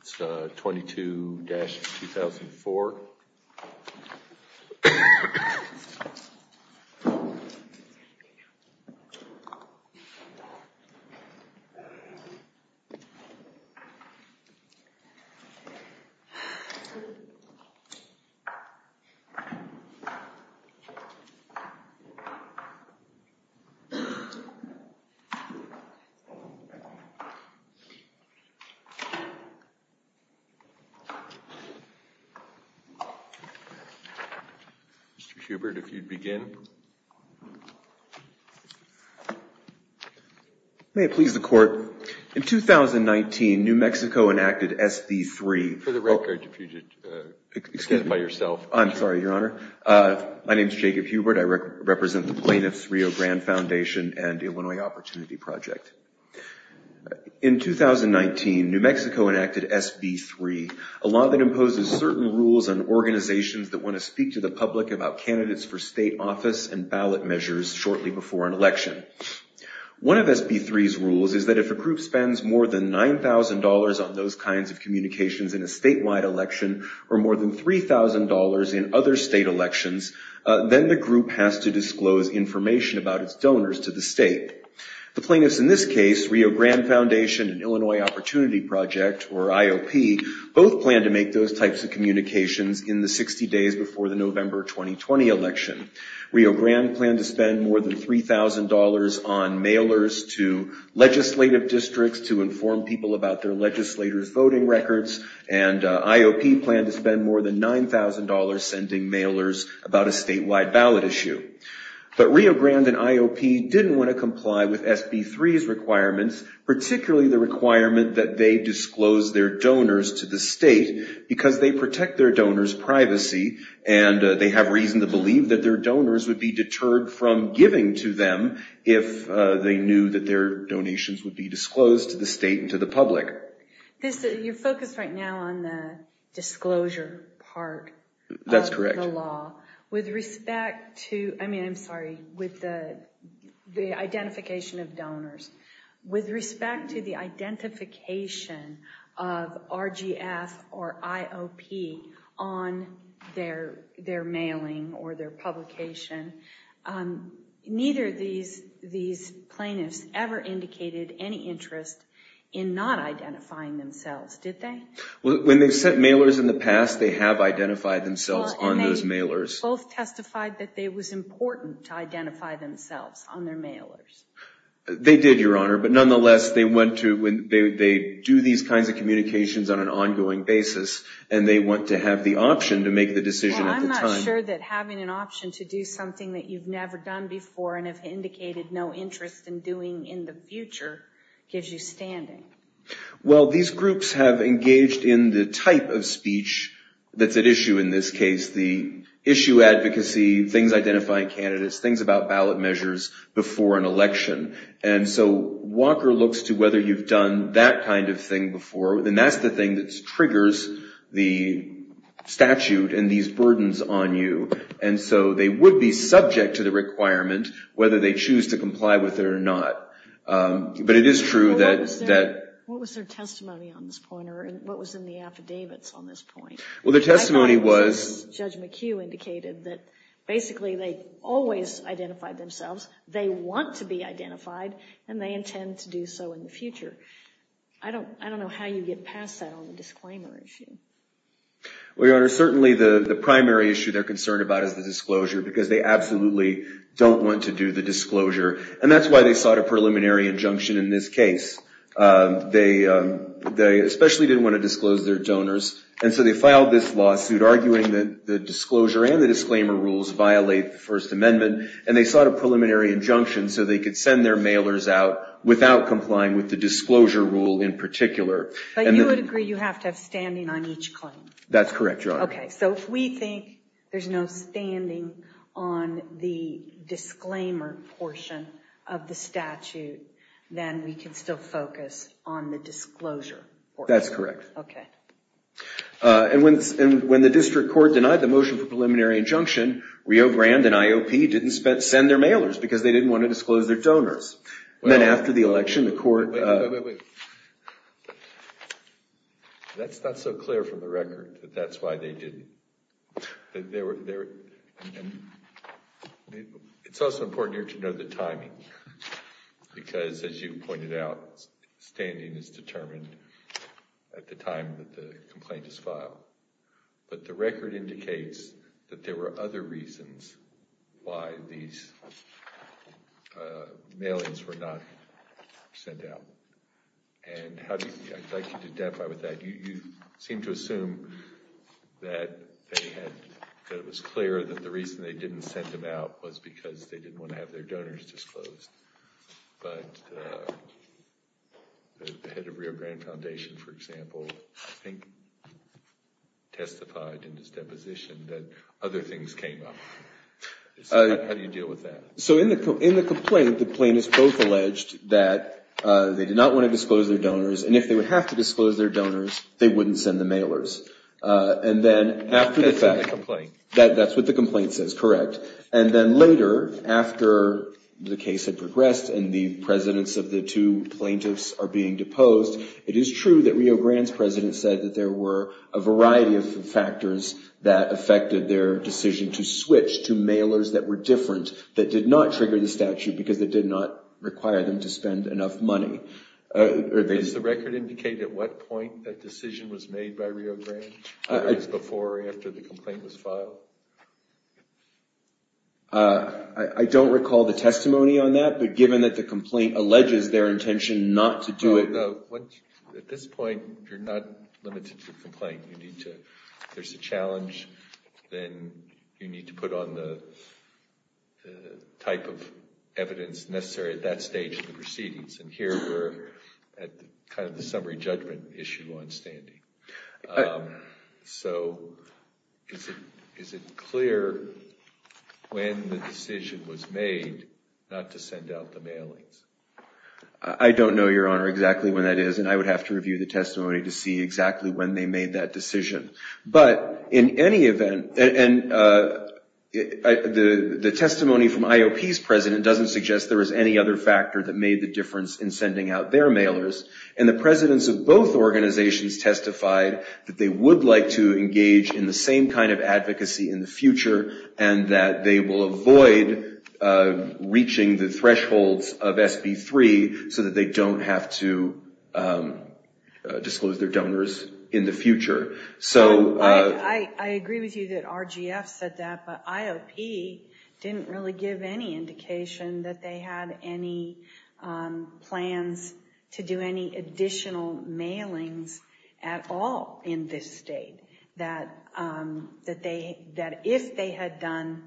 It's 22-2004 Mr. Hubert, if you'd begin. May it please the Court. In 2019, New Mexico enacted SD3. For the record, if you'd excuse me. Excuse me. By yourself. I'm sorry, Your Honor. My name is Jacob Hubert. I represent the Plaintiffs' Rio Grande Foundation and Illinois Opportunity Project. In 2019, New Mexico enacted SB3, a law that imposes certain rules on organizations that want to speak to the public about candidates for state office and ballot measures shortly before an election. One of SB3's rules is that if a group spends more than $9,000 on those kinds of communications in a statewide election or more than $3,000 in other state elections, then the group has to disclose information about its donors to the state. The plaintiffs in this case, Rio Grande Foundation and Illinois Opportunity Project, or IOP, both planned to make those types of communications in the 60 days before the November 2020 election. Rio Grande planned to spend more than $3,000 on mailers to legislative districts to inform people about their legislators' voting records, and IOP planned to spend more than $9,000 sending mailers about a statewide ballot issue. But Rio Grande and IOP didn't want to comply with SB3's requirements, particularly the requirement that they disclose their donors to the state because they protect their donors' privacy and they have reason to believe that their donors would be deterred from giving to them if they knew that their donations would be disclosed to the state and to the public. You're focused right now on the disclosure part of the law. With respect to the identification of donors, with respect to the identification of RGF or IOP on their mailing or their publication, neither of these plaintiffs ever indicated any interest in not identifying themselves, did they? Well, when they sent mailers in the past, they have identified themselves on those mailers. Well, and they both testified that it was important to identify themselves on their mailers. They did, Your Honor, but nonetheless, they do these kinds of communications on an ongoing basis, and they want to have the option to make the decision at the time. Well, I'm not sure that having an option to do something that you've never done before and have indicated no interest in doing in the future gives you standing. Well, these groups have engaged in the type of speech that's at issue in this case, the issue advocacy, things identifying candidates, things about ballot measures before an election. And so Walker looks to whether you've done that kind of thing before, and that's the thing that triggers the statute and these burdens on you. And so they would be subject to the requirement whether they choose to comply with it or not. But it is true that... What was their testimony on this point, or what was in the affidavits on this point? Well, their testimony was... Judge McHugh indicated that basically they always identified themselves, they want to be identified, and they intend to do so in the future. I don't know how you get past that on the disclaimer issue. Well, Your Honor, certainly the primary issue they're concerned about is the disclosure, because they absolutely don't want to do the disclosure. And that's why they sought a preliminary injunction in this case. They especially didn't want to disclose their donors, and so they filed this lawsuit arguing that the disclosure and the disclaimer rules violate the First Amendment. And they sought a preliminary injunction so they could send their mailers out without complying with the disclosure rule in particular. But you would agree you have to have standing on each claim? That's correct, Your Honor. Okay, so if we think there's no standing on the disclaimer portion of the statute, then we can still focus on the disclosure portion? That's correct. Okay. And when the district court denied the motion for preliminary injunction, Rio Grande and IOP didn't send their mailers because they didn't want to disclose their donors. Then after the election, the court... Wait, wait, wait. That's not so clear from the record that that's why they didn't. It's also important here to know the timing, because as you pointed out, standing is determined at the time that the complaint is filed. But the record indicates that there were other reasons why these mailings were not sent out. And I'd like you to identify with that. You seem to assume that it was clear that the reason they didn't send them out was because they didn't want to have their donors disclosed. But the head of Rio Grande Foundation, for example, I think testified in his deposition that other things came up. How do you deal with that? So in the complaint, the plaintiffs both alleged that they did not want to disclose their donors. And if they would have to disclose their donors, they wouldn't send the mailers. And then after the fact... That's in the complaint. That's what the complaint says, correct. And then later, after the case had progressed and the presidents of the two plaintiffs are being deposed, it is true that Rio Grande's president said that there were a variety of factors that affected their decision to switch to mailers that were different, that did not trigger the statute because it did not require them to spend enough money. Does the record indicate at what point that decision was made by Rio Grande? Was it before or after the complaint was filed? I don't recall the testimony on that, but given that the complaint alleges their intention not to do it... At this point, you're not limited to the complaint. If there's a challenge, then you need to put on the type of evidence necessary at that stage of the proceedings. And here we're at kind of the summary judgment issue on standing. So is it clear when the decision was made not to send out the mailings? I don't know, Your Honor, exactly when that is, and I would have to review the testimony to see exactly when they made that decision. But in any event, the testimony from IOP's president doesn't suggest there was any other factor that made the difference in sending out their mailers, and the presidents of both organizations testified that they would like to engage in the same kind of advocacy in the future and that they will avoid reaching the thresholds of SB3 so that they don't have to disclose their donors in the future. I agree with you that RGF said that, but IOP didn't really give any indication that they had any plans to do any additional mailings at all in this state, that if they had done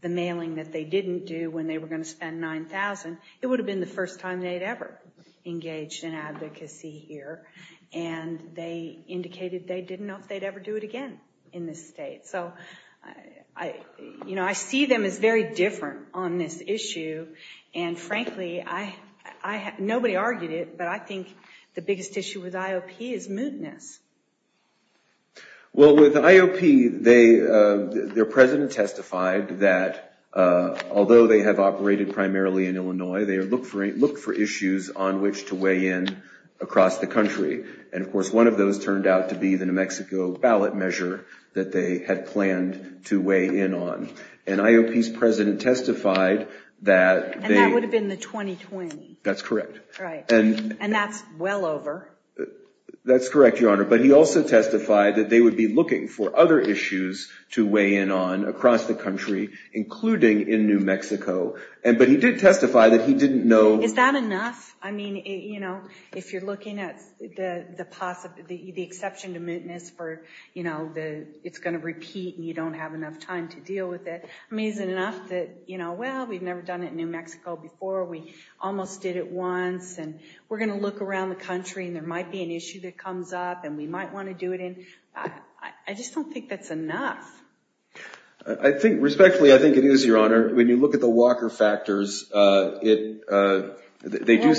the mailing that they didn't do when they were going to spend $9,000, it would have been the first time they'd ever engaged in advocacy here. And they indicated they didn't know if they'd ever do it again in this state. So, you know, I see them as very different on this issue, and frankly, nobody argued it, but I think the biggest issue with IOP is mootness. Well, with IOP, their president testified that although they have operated primarily in Illinois, they have looked for issues on which to weigh in across the country. And, of course, one of those turned out to be the New Mexico ballot measure that they had planned to weigh in on. And IOP's president testified that they... And that would have been the 2020. That's correct. Right. And that's well over. That's correct, Your Honor. But he also testified that they would be looking for other issues to weigh in on across the country, including in New Mexico. But he did testify that he didn't know... Is that enough? I mean, you know, if you're looking at the exception to mootness for, you know, it's going to repeat and you don't have enough time to deal with it, I mean, is it enough that, you know, well, we've never done it in New Mexico before. We almost did it once, and we're going to look around the country, and there might be an issue that comes up, and we might want to do it in... I just don't think that's enough. Respectfully, I think it is, Your Honor. When you look at the Walker factors, they do satisfy...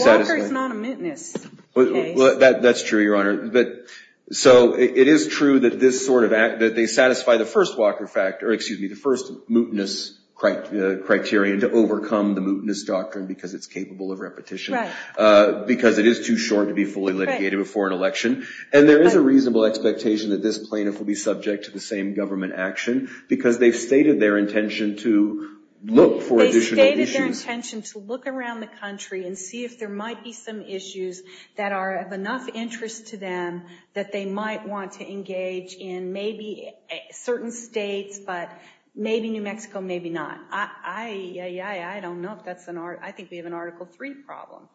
Well, Walker's not a mootness case. That's true, Your Honor. So it is true that this sort of act, that they satisfy the first Walker factor, excuse me, the first mootness criterion to overcome the mootness doctrine because it's capable of repetition, because it is too short to be fully litigated before an election. And there is a reasonable expectation that this plaintiff will be subject to the same government action because they've stated their intention to look for additional issues. They've stated their intention to look around the country and see if there might be some issues that are of enough interest to them that they might want to engage in maybe certain states, but maybe New Mexico, maybe not. I don't know if that's an... I think we have an Article III problem.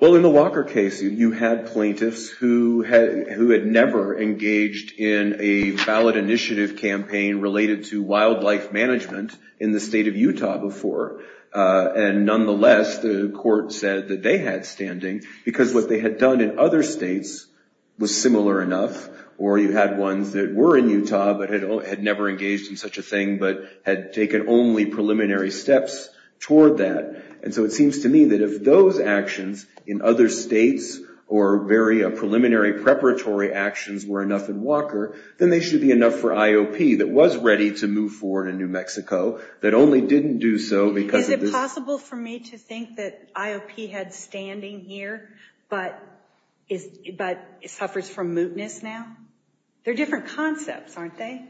Well, in the Walker case, you had plaintiffs who had never engaged in a ballot initiative campaign related to wildlife management in the state of Utah before. And nonetheless, the court said that they had standing because what they had done in other states was similar enough, or you had ones that were in Utah but had never engaged in such a thing but had taken only preliminary steps toward that. And so it seems to me that if those actions in other states or very preliminary preparatory actions were enough in Walker, then they should be enough for IOP that was ready to move forward in New Mexico that only didn't do so because of this... Is it possible for me to think that IOP had standing here but suffers from mootness now? They're different concepts, aren't they?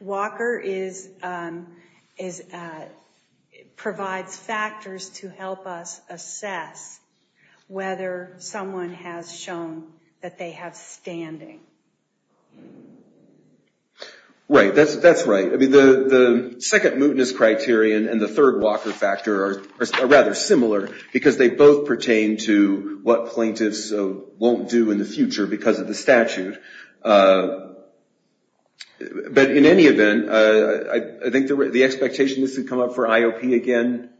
Walker provides factors to help us assess whether someone has shown that they have standing. Right, that's right. The second mootness criterion and the third Walker factor are rather similar because they both pertain to what plaintiffs won't do in the future because of the statute. But in any event, I think the expectation this would come up for IOP again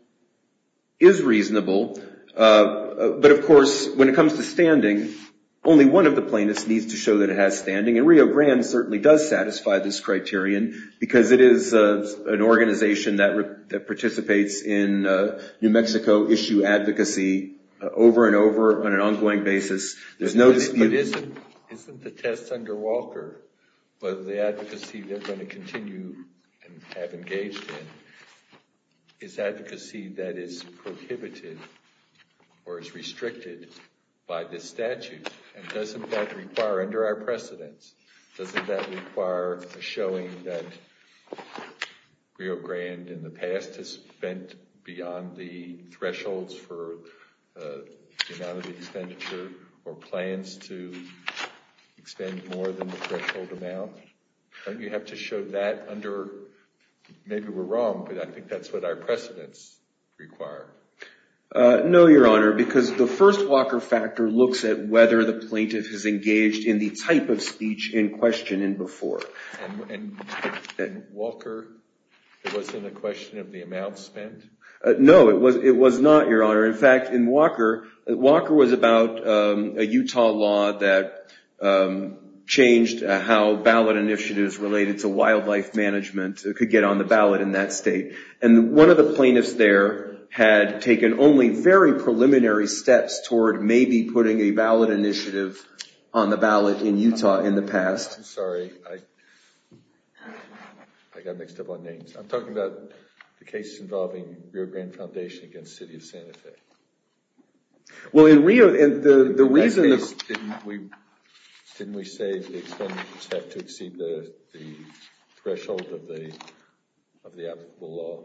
is reasonable. But of course, when it comes to standing, only one of the plaintiffs needs to show that it has standing. And Rio Grande certainly does satisfy this criterion because it is an organization that participates in New Mexico issue advocacy over and over on an ongoing basis. But isn't the test under Walker, whether the advocacy they're going to continue and have engaged in, is advocacy that is prohibited or is restricted by this statute? And doesn't that require, under our precedents, doesn't that require a showing that Rio Grande in the past has spent beyond the thresholds for the amount of expenditure or plans to extend more than the threshold amount? Don't you have to show that under – maybe we're wrong, but I think that's what our precedents require. No, Your Honor, because the first Walker factor looks at whether the plaintiff has engaged in the type of speech in question and before. And Walker, it wasn't a question of the amount spent? No, it was not, Your Honor. In fact, in Walker, Walker was about a Utah law that changed how ballot initiatives related to wildlife management could get on the ballot in that state. And one of the plaintiffs there had taken only very preliminary steps toward maybe putting a ballot initiative on the ballot in Utah in the past. I'm sorry, I got mixed up on names. I'm talking about the case involving Rio Grande Foundation against the city of Santa Fe. Well, in Rio, the reason – Didn't we say the expenditures have to exceed the threshold of the applicable law?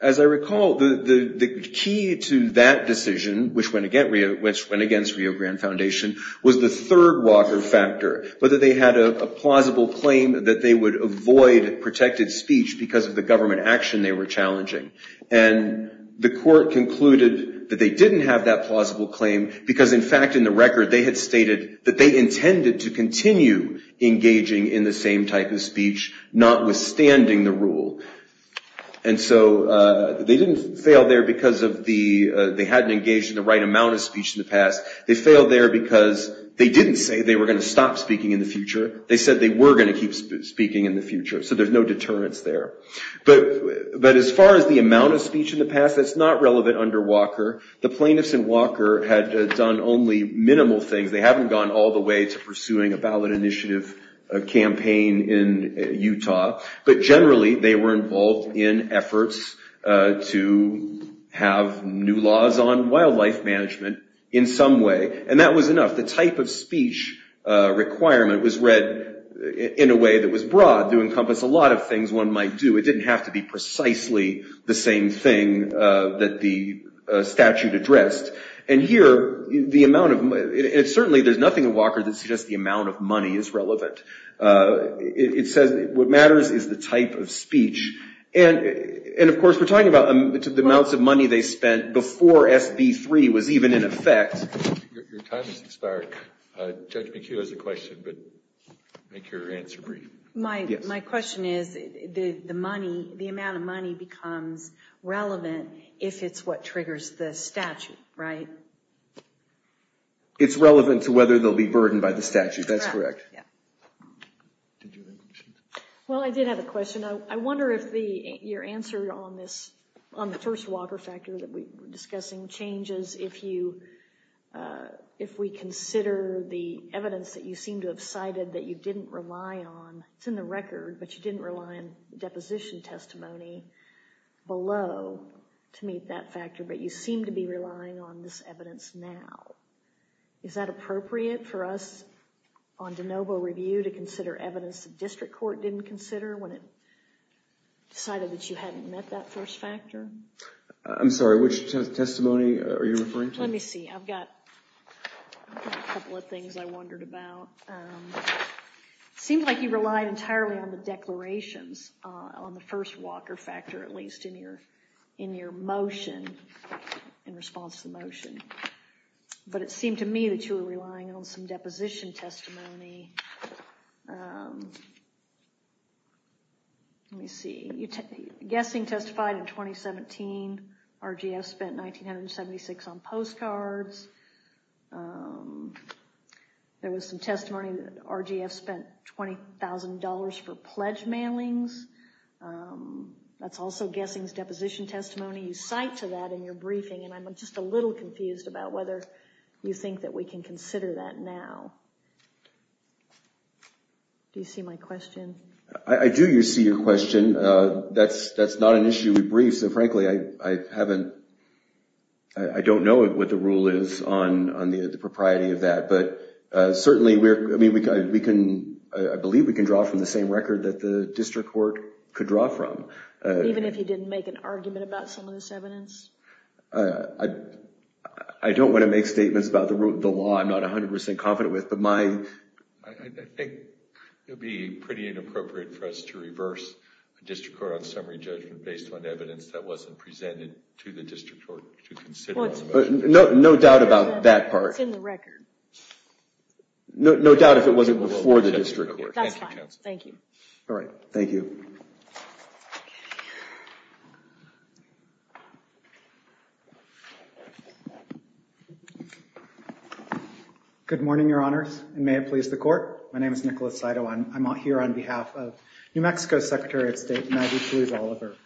As I recall, the key to that decision, which went against Rio Grande Foundation, was the third Walker factor, whether they had a plausible claim that they would avoid protected speech because of the government action they were challenging. And the court concluded that they didn't have that plausible claim because, in fact, in the record, they had stated that they intended to continue engaging in the same type of speech, notwithstanding the rule. And so they didn't fail there because of the – they hadn't engaged in the right amount of speech in the past. They failed there because they didn't say they were going to stop speaking in the future. They said they were going to keep speaking in the future. So there's no deterrence there. But as far as the amount of speech in the past, that's not relevant under Walker. The plaintiffs in Walker had done only minimal things. They haven't gone all the way to pursuing a ballot initiative campaign in Utah. But generally, they were involved in efforts to have new laws on wildlife management in some way. And that was enough. The type of speech requirement was read in a way that was broad to encompass a lot of things one might do. It didn't have to be precisely the same thing that the statute addressed. And here, the amount of – and certainly there's nothing in Walker that suggests the amount of money is relevant. It says what matters is the type of speech. And, of course, we're talking about the amounts of money they spent before SB 3 was even in effect. Your time has expired. Judge McHugh has a question, but make your answer brief. My question is the money – the amount of money becomes relevant if it's what triggers the statute, right? It's relevant to whether they'll be burdened by the statute. That's correct. Well, I did have a question. I wonder if your answer on the first Walker factor that we were discussing changes if you – if we consider the evidence that you seem to have cited that you didn't rely on – it's in the record, but you didn't rely on deposition testimony below to meet that factor, but you seem to be relying on this evidence now. Is that appropriate for us on de novo review to consider evidence the district court didn't consider when it decided that you hadn't met that first factor? I'm sorry. Which testimony are you referring to? Let me see. I've got a couple of things I wondered about. It seems like you relied entirely on the declarations on the first Walker factor, at least in your motion, in response to the motion. But it seemed to me that you were relying on some deposition testimony. Let me see. Guessing testified in 2017. RGF spent $1,976 on postcards. There was some testimony that RGF spent $20,000 for pledge mailings. That's also guessing's deposition testimony. You cite to that in your briefing, and I'm just a little confused about whether you think that we can consider that now. Do you see my question? I do see your question. That's not an issue we briefed, so frankly, I haven't – I don't know what the rule is on the propriety of that. But certainly, I believe we can draw from the same record that the district court could draw from. Even if he didn't make an argument about some of this evidence? I don't want to make statements about the law I'm not 100% confident with, but my – I think it would be pretty inappropriate for us to reverse a district court on summary judgment based on evidence that wasn't presented to the district court to consider the motion. No doubt about that part. It's in the record. No doubt if it wasn't before the district court. That's fine. Thank you. All right. Thank you. Good morning, Your Honors, and may it please the Court. My name is Nicholas Saito, and I'm here on behalf of New Mexico's Secretary of State, Maggie Louise Oliver.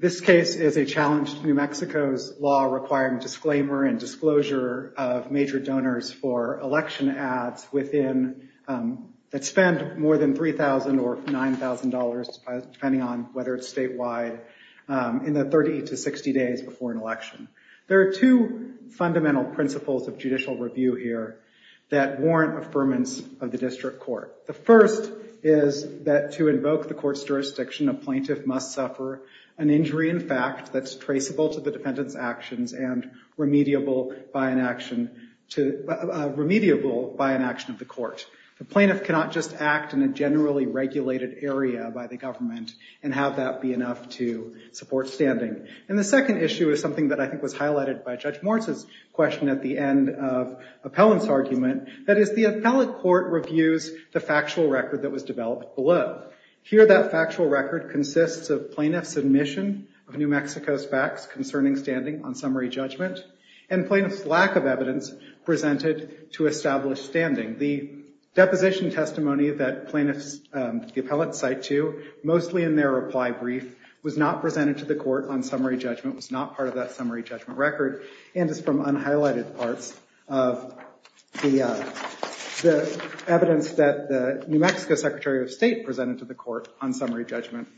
This case is a challenge to New Mexico's law requiring disclaimer and disclosure of major donors for election ads within – that spend more than $3,000 or $9,000, depending on whether it's statewide, in the 30 to 60 days before an election. There are two fundamental principles of judicial review here that warrant affirmance of the district court. The first is that to invoke the court's jurisdiction, a plaintiff must suffer an injury in fact that's traceable to the defendant's actions and remediable by an action of the court. The plaintiff cannot just act in a generally regulated area by the government and have that be enough to support standing. And the second issue is something that I think was highlighted by Judge Moritz's question at the end of Appellant's argument, that is the appellate court reviews the factual record that was developed below. Here that factual record consists of plaintiff's admission of New Mexico's facts concerning standing on summary judgment and plaintiff's lack of evidence presented to establish standing. The deposition testimony that plaintiffs – the appellate cite to, mostly in their reply brief, was not presented to the court on summary judgment, was not part of that summary judgment record, and is from unhighlighted parts of the evidence that the New Mexico Secretary of State presented to the court on summary judgment.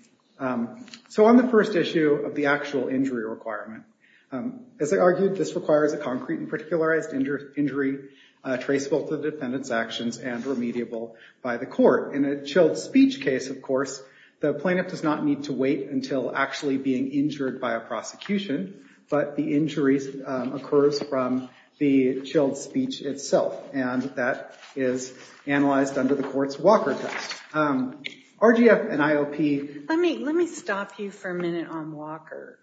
So on the first issue of the actual injury requirement, as I argued this requires a concrete and particularized injury traceable to the defendant's actions and remediable by the court. In a chilled speech case, of course, the plaintiff does not need to wait until actually being injured by a prosecution, but the injury occurs from the chilled speech itself, and that is analyzed under the court's Walker test. RGF and IOP… Let me stop you for a minute on Walker.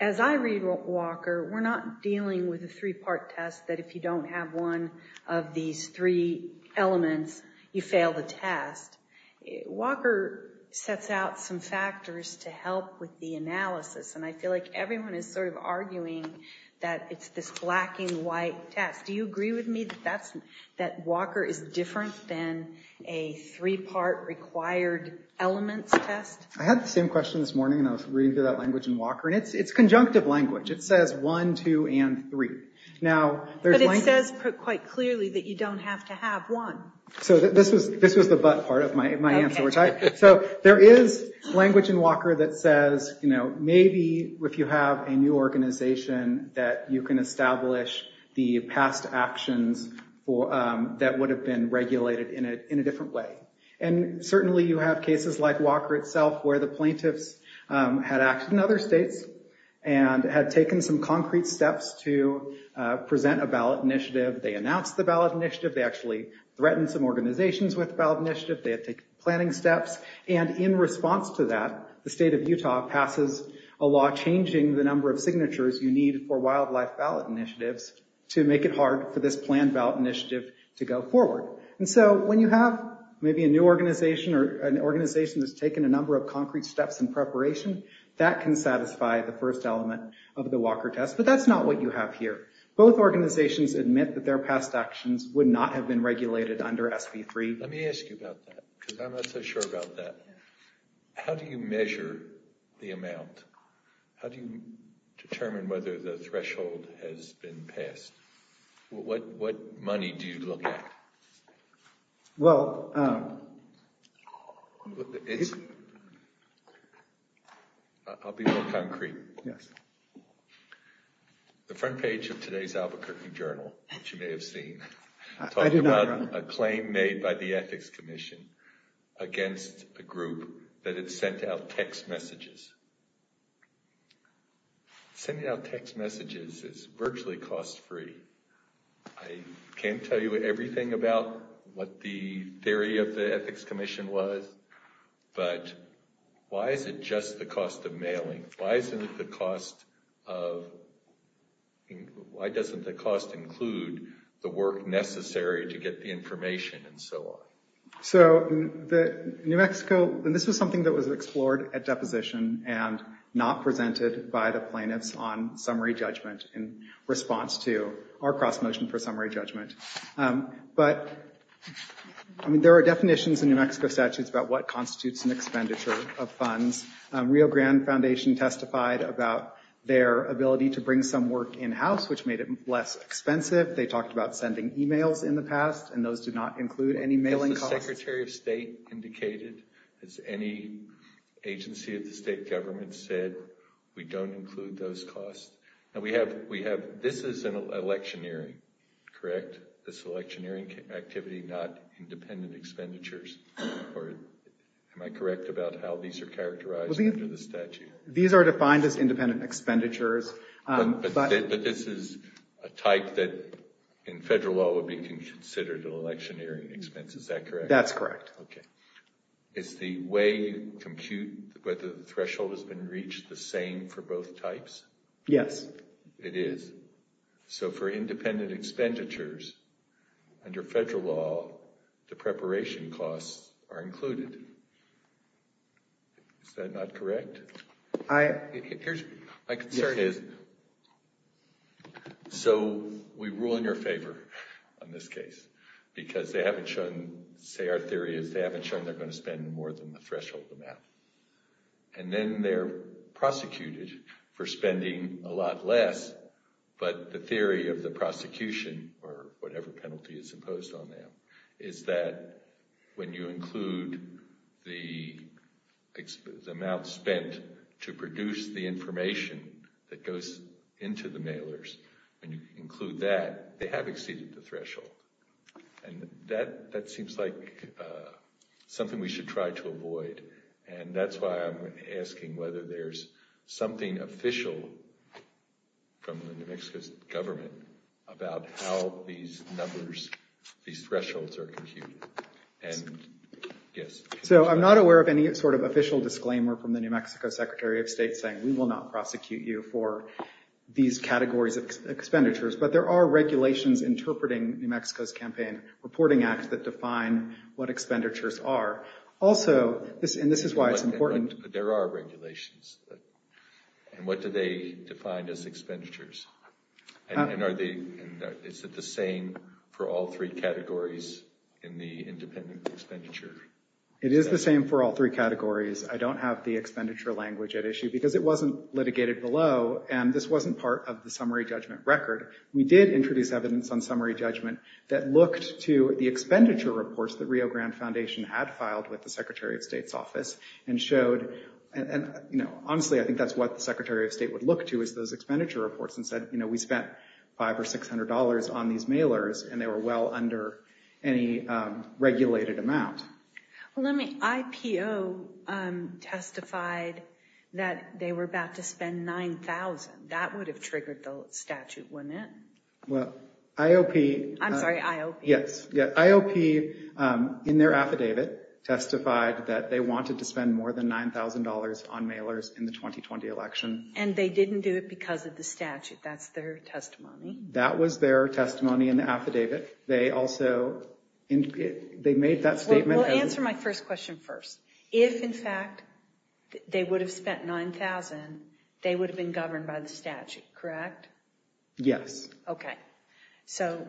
As I read Walker, we're not dealing with a three-part test that if you don't have one of these three elements, you fail the test. Walker sets out some factors to help with the analysis, and I feel like everyone is sort of arguing that it's this black and white test. Do you agree with me that Walker is different than a three-part required elements test? I had the same question this morning, and I was reading through that language in Walker, and it's conjunctive language. It says one, two, and three. But it says quite clearly that you don't have to have one. So this was the but part of my answer. So there is language in Walker that says, maybe if you have a new organization that you can establish the past actions that would have been regulated in a different way. And certainly you have cases like Walker itself, where the plaintiffs had acted in other states and had taken some concrete steps to present a ballot initiative. They announced the ballot initiative. They actually threatened some organizations with the ballot initiative. They had taken planning steps. And in response to that, the state of Utah passes a law changing the number of signatures you need for wildlife ballot initiatives to make it hard for this planned ballot initiative to go forward. And so when you have maybe a new organization or an organization that's taken a number of concrete steps in preparation, that can satisfy the first element of the Walker test. But that's not what you have here. Both organizations admit that their past actions would not have been regulated under SB 3. Let me ask you about that, because I'm not so sure about that. How do you measure the amount? How do you determine whether the threshold has been passed? What money do you look at? Well, it's... I'll be more concrete. Yes. The front page of today's Albuquerque Journal, which you may have seen, talked about a claim made by the Ethics Commission against a group that had sent out text messages. Sending out text messages is virtually cost free. I can't tell you everything about what the theory of the Ethics Commission was, but why is it just the cost of mailing? Why isn't the cost of... Why doesn't the cost include the work necessary to get the information and so on? So, New Mexico, and this was something that was explored at deposition and not presented by the plaintiffs on summary judgment in response to our cross-motion for summary judgment. But there are definitions in New Mexico statutes about what constitutes an expenditure of funds. Rio Grande Foundation testified about their ability to bring some work in-house, which made it less expensive. They talked about sending emails in the past, and those do not include any mailing costs. Has the Secretary of State indicated? Has any agency of the state government said, we don't include those costs? And we have...this is an electioneering, correct? This electioneering activity, not independent expenditures. Am I correct about how these are characterized under the statute? These are defined as independent expenditures. But this is a type that in federal law would be considered an electioneering expense. Is that correct? That's correct. Okay. Is the way you compute whether the threshold has been reached the same for both types? Yes. It is. So for independent expenditures, under federal law, the preparation costs are included. Is that not correct? My concern is... So we rule in your favor on this case, because they haven't shown... say our theory is they haven't shown they're going to spend more than the threshold amount. And then they're prosecuted for spending a lot less. But the theory of the prosecution, or whatever penalty is imposed on them, is that when you include the amount spent to produce the information that goes into the mailers, when you include that, they have exceeded the threshold. And that seems like something we should try to avoid. And that's why I'm asking whether there's something official from the New Mexico government about how these numbers, these thresholds are computed. So I'm not aware of any sort of official disclaimer from the New Mexico Secretary of State saying we will not prosecute you for these categories of expenditures. But there are regulations interpreting New Mexico's Campaign Reporting Act that define what expenditures are. Also, and this is why it's important... There are regulations. And what do they define as expenditures? And is it the same for all three categories in the independent expenditure? It is the same for all three categories. I don't have the expenditure language at issue, because it wasn't litigated below, and this wasn't part of the summary judgment record. We did introduce evidence on summary judgment that looked to the expenditure reports that Rio Grande Foundation had filed with the Secretary of State's office and showed... Honestly, I think that's what the Secretary of State would look to is those expenditure reports and said, you know, we spent $500 or $600 on these mailers, and they were well under any regulated amount. Well, let me...IPO testified that they were about to spend $9,000. That would have triggered the statute, wouldn't it? Well, IOP... I'm sorry, IOP. Yes, IOP, in their affidavit, testified that they wanted to spend more than $9,000 on mailers in the 2020 election. And they didn't do it because of the statute. That's their testimony. That was their testimony in the affidavit. They also...they made that statement... Well, answer my first question first. If, in fact, they would have spent $9,000, they would have been governed by the statute, correct? Yes. Okay. So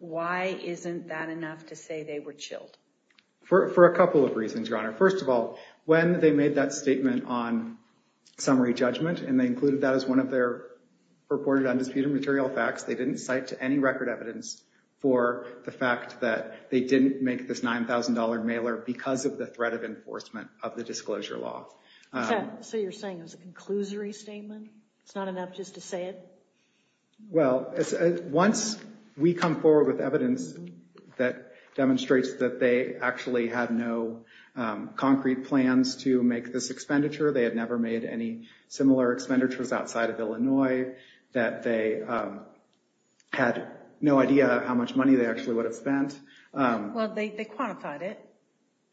why isn't that enough to say they were chilled? For a couple of reasons, Your Honor. First of all, when they made that statement on summary judgment, and they included that as one of their reported undisputed material facts, they didn't cite any record evidence for the fact that they didn't make this $9,000 mailer because of the threat of enforcement of the disclosure law. So you're saying it was a conclusory statement? It's not enough just to say it? Well, once we come forward with evidence that demonstrates that they actually had no concrete plans to make this expenditure, they had never made any similar expenditures outside of Illinois, that they had no idea how much money they actually would have spent. Well, they quantified it.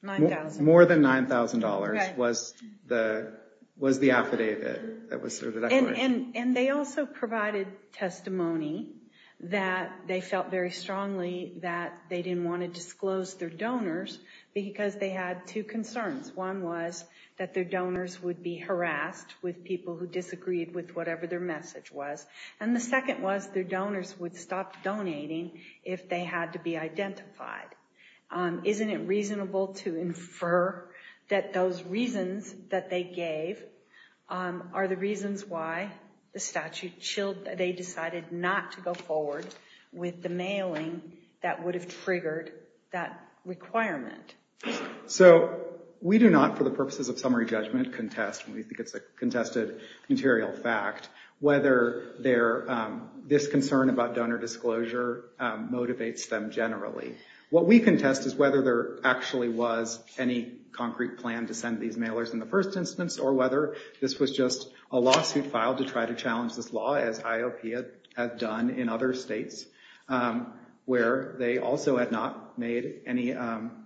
$9,000. $9,000 was the affidavit. And they also provided testimony that they felt very strongly that they didn't want to disclose their donors because they had two concerns. One was that their donors would be harassed with people who disagreed with whatever their message was, and the second was their donors would stop donating if they had to be identified. Isn't it reasonable to infer that those reasons that they gave are the reasons why the statute chilled that they decided not to go forward with the mailing that would have triggered that requirement? So we do not, for the purposes of summary judgment, contest, and we think it's a contested material fact, whether this concern about donor disclosure motivates them generally. What we contest is whether there actually was any concrete plan to send these mailers in the first instance, or whether this was just a lawsuit filed to try to challenge this law, as IOP had done in other states, where they also had not made any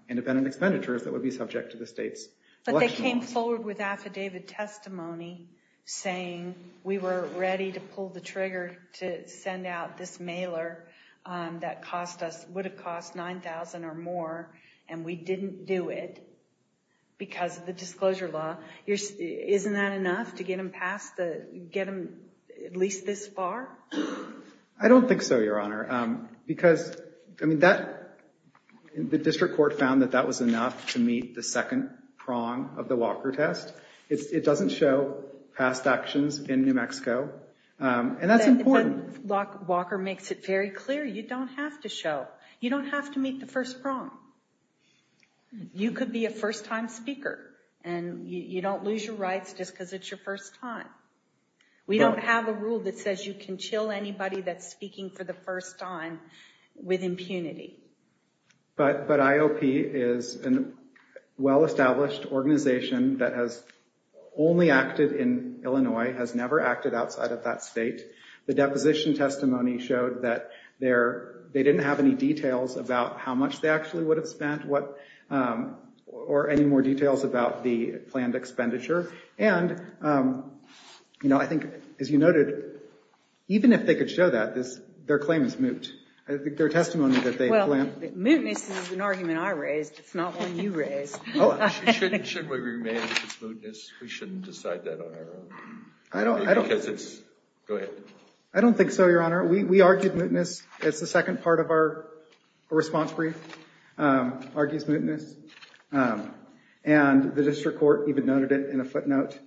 independent expenditures that would be subject to the state's election laws. But they came forward with affidavit testimony saying we were ready to pull the trigger to send out this mailer that would have cost $9,000 or more, and we didn't do it because of the disclosure law. Isn't that enough to get them at least this far? I don't think so, Your Honor, because the district court found that that was enough to meet the second prong of the Walker test. It doesn't show past actions in New Mexico, and that's important. Walker makes it very clear. You don't have to show. You don't have to meet the first prong. You could be a first-time speaker, and you don't lose your rights just because it's your first time. We don't have a rule that says you can chill anybody that's speaking for the first time with impunity. But IOP is a well-established organization that has only acted in Illinois, has never acted outside of that state. The deposition testimony showed that they didn't have any details about how much they actually would have spent or any more details about the planned expenditure. And I think, as you noted, even if they could show that, their claim is moot. Their testimony that they planned... Well, mootness is an argument I raised. It's not one you raised. Shouldn't we remain as mootness? We shouldn't decide that on our own? I don't think so, Your Honor. We argued mootness. It's the second part of our response brief, argues mootness. And the district court even noted it in a footnote.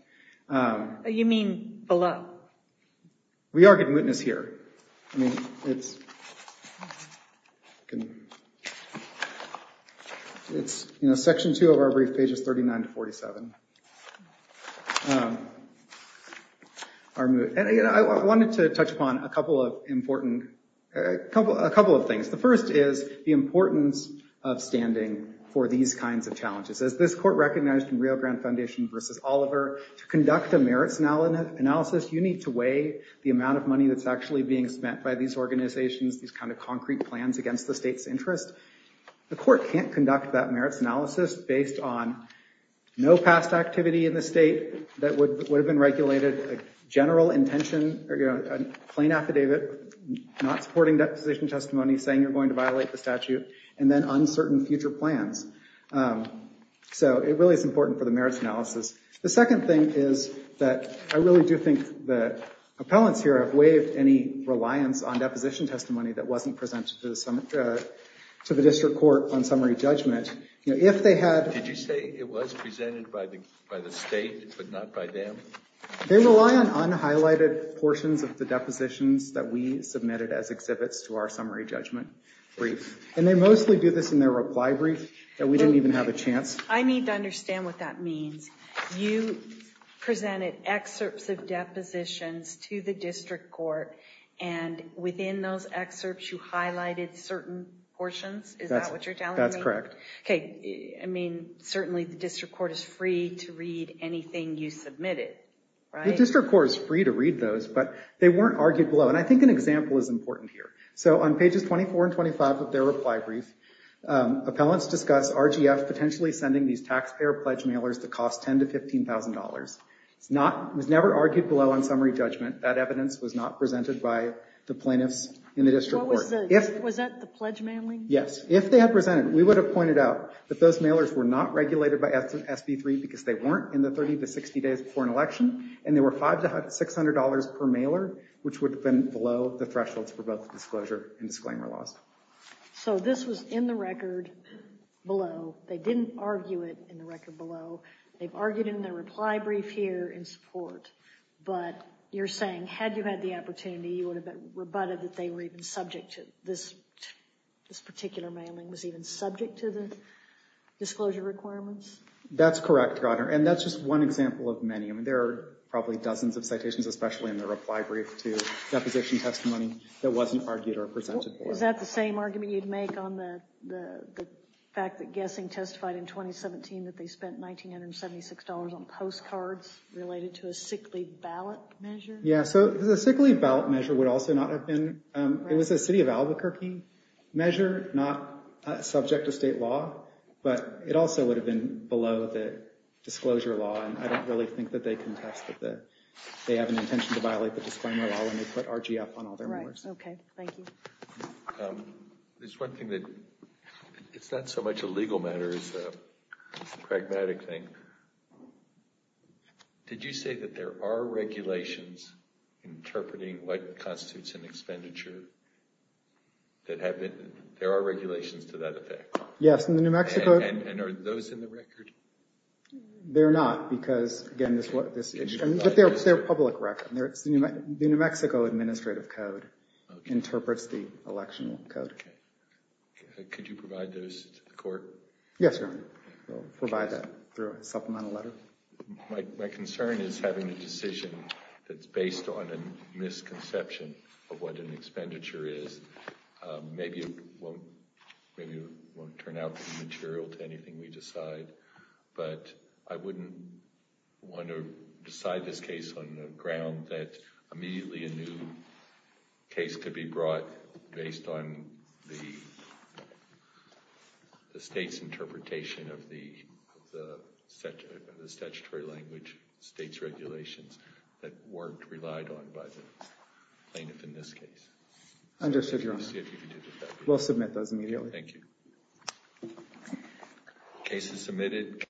You mean below? We argued mootness here. Section 2 of our brief page is 39 to 47. I wanted to touch upon a couple of things. The first is the importance of standing for these kinds of challenges. As this court recognized in Rio Grande Foundation v. Oliver, to conduct a merits analysis, you need to weigh the amount of money that's actually being spent by these organizations, these kind of concrete plans against the state's interest. The court can't conduct that merits analysis based on no past activity in the state that would have been regulated, a general intention, a plain affidavit, not supporting deposition testimony, saying you're going to violate the statute, and then uncertain future plans. So it really is important for the merits analysis. The second thing is that I really do think the appellants here have waived any reliance on deposition testimony that wasn't presented to the district court on summary judgment. Did you say it was presented by the state but not by them? They rely on unhighlighted portions of the depositions that we submitted as exhibits to our summary judgment brief. And they mostly do this in their reply brief that we didn't even have a chance. I need to understand what that means. You presented excerpts of depositions to the district court, and within those excerpts you highlighted certain portions? Is that what you're telling me? That's correct. Okay, I mean, certainly the district court is free to read anything you submitted, right? The district court is free to read those, but they weren't argued below. And I think an example is important here. So on pages 24 and 25 of their reply brief, appellants discuss RGF potentially sending these taxpayer pledge mailers to cost $10,000 to $15,000. It was never argued below on summary judgment. That evidence was not presented by the plaintiffs in the district court. Was that the pledge mailing? Yes. If they had presented it, we would have pointed out because they weren't in the 30 to 60 days before an election, and there were $500 to $600 per mailer, which would have been below the thresholds for both the disclosure and disclaimer laws. So this was in the record below. They didn't argue it in the record below. They've argued in their reply brief here in support. But you're saying had you had the opportunity, you would have rebutted that this particular mailing was even subject to the disclosure requirements? That's correct, Your Honor. And that's just one example of many. I mean, there are probably dozens of citations, especially in the reply brief to deposition testimony that wasn't argued or presented for. Is that the same argument you'd make on the fact that Guessing testified in 2017 that they spent $1,976 on postcards related to a sick leave ballot measure? Yeah, so the sick leave ballot measure would also not have been. It was a city of Albuquerque measure, not subject to state law. But it also would have been below the disclosure law. I don't really think that they contested that. They have an intention to violate the disclaimer law when they put RGF on all their wars. Right, OK, thank you. There's one thing that it's not so much a legal matter as a pragmatic thing. Did you say that there are regulations interpreting what constitutes an expenditure? There are regulations to that effect. Yes, in the New Mexico. And are those in the record? They're not because, again, they're public record. The New Mexico Administrative Code interprets the election code. Could you provide those to the court? Yes, Your Honor. We'll provide that through a supplemental letter. My concern is having a decision that's based on a misconception of what an expenditure is. Maybe it won't turn out to be material to anything we decide. But I wouldn't want to decide this case on the ground that immediately a new case could be brought based on the state's interpretation of the statutory language, state's regulations, that weren't relied on by the plaintiff in this case. Understood, Your Honor. We'll see if we can do that. We'll submit those immediately. Thank you. Case is submitted.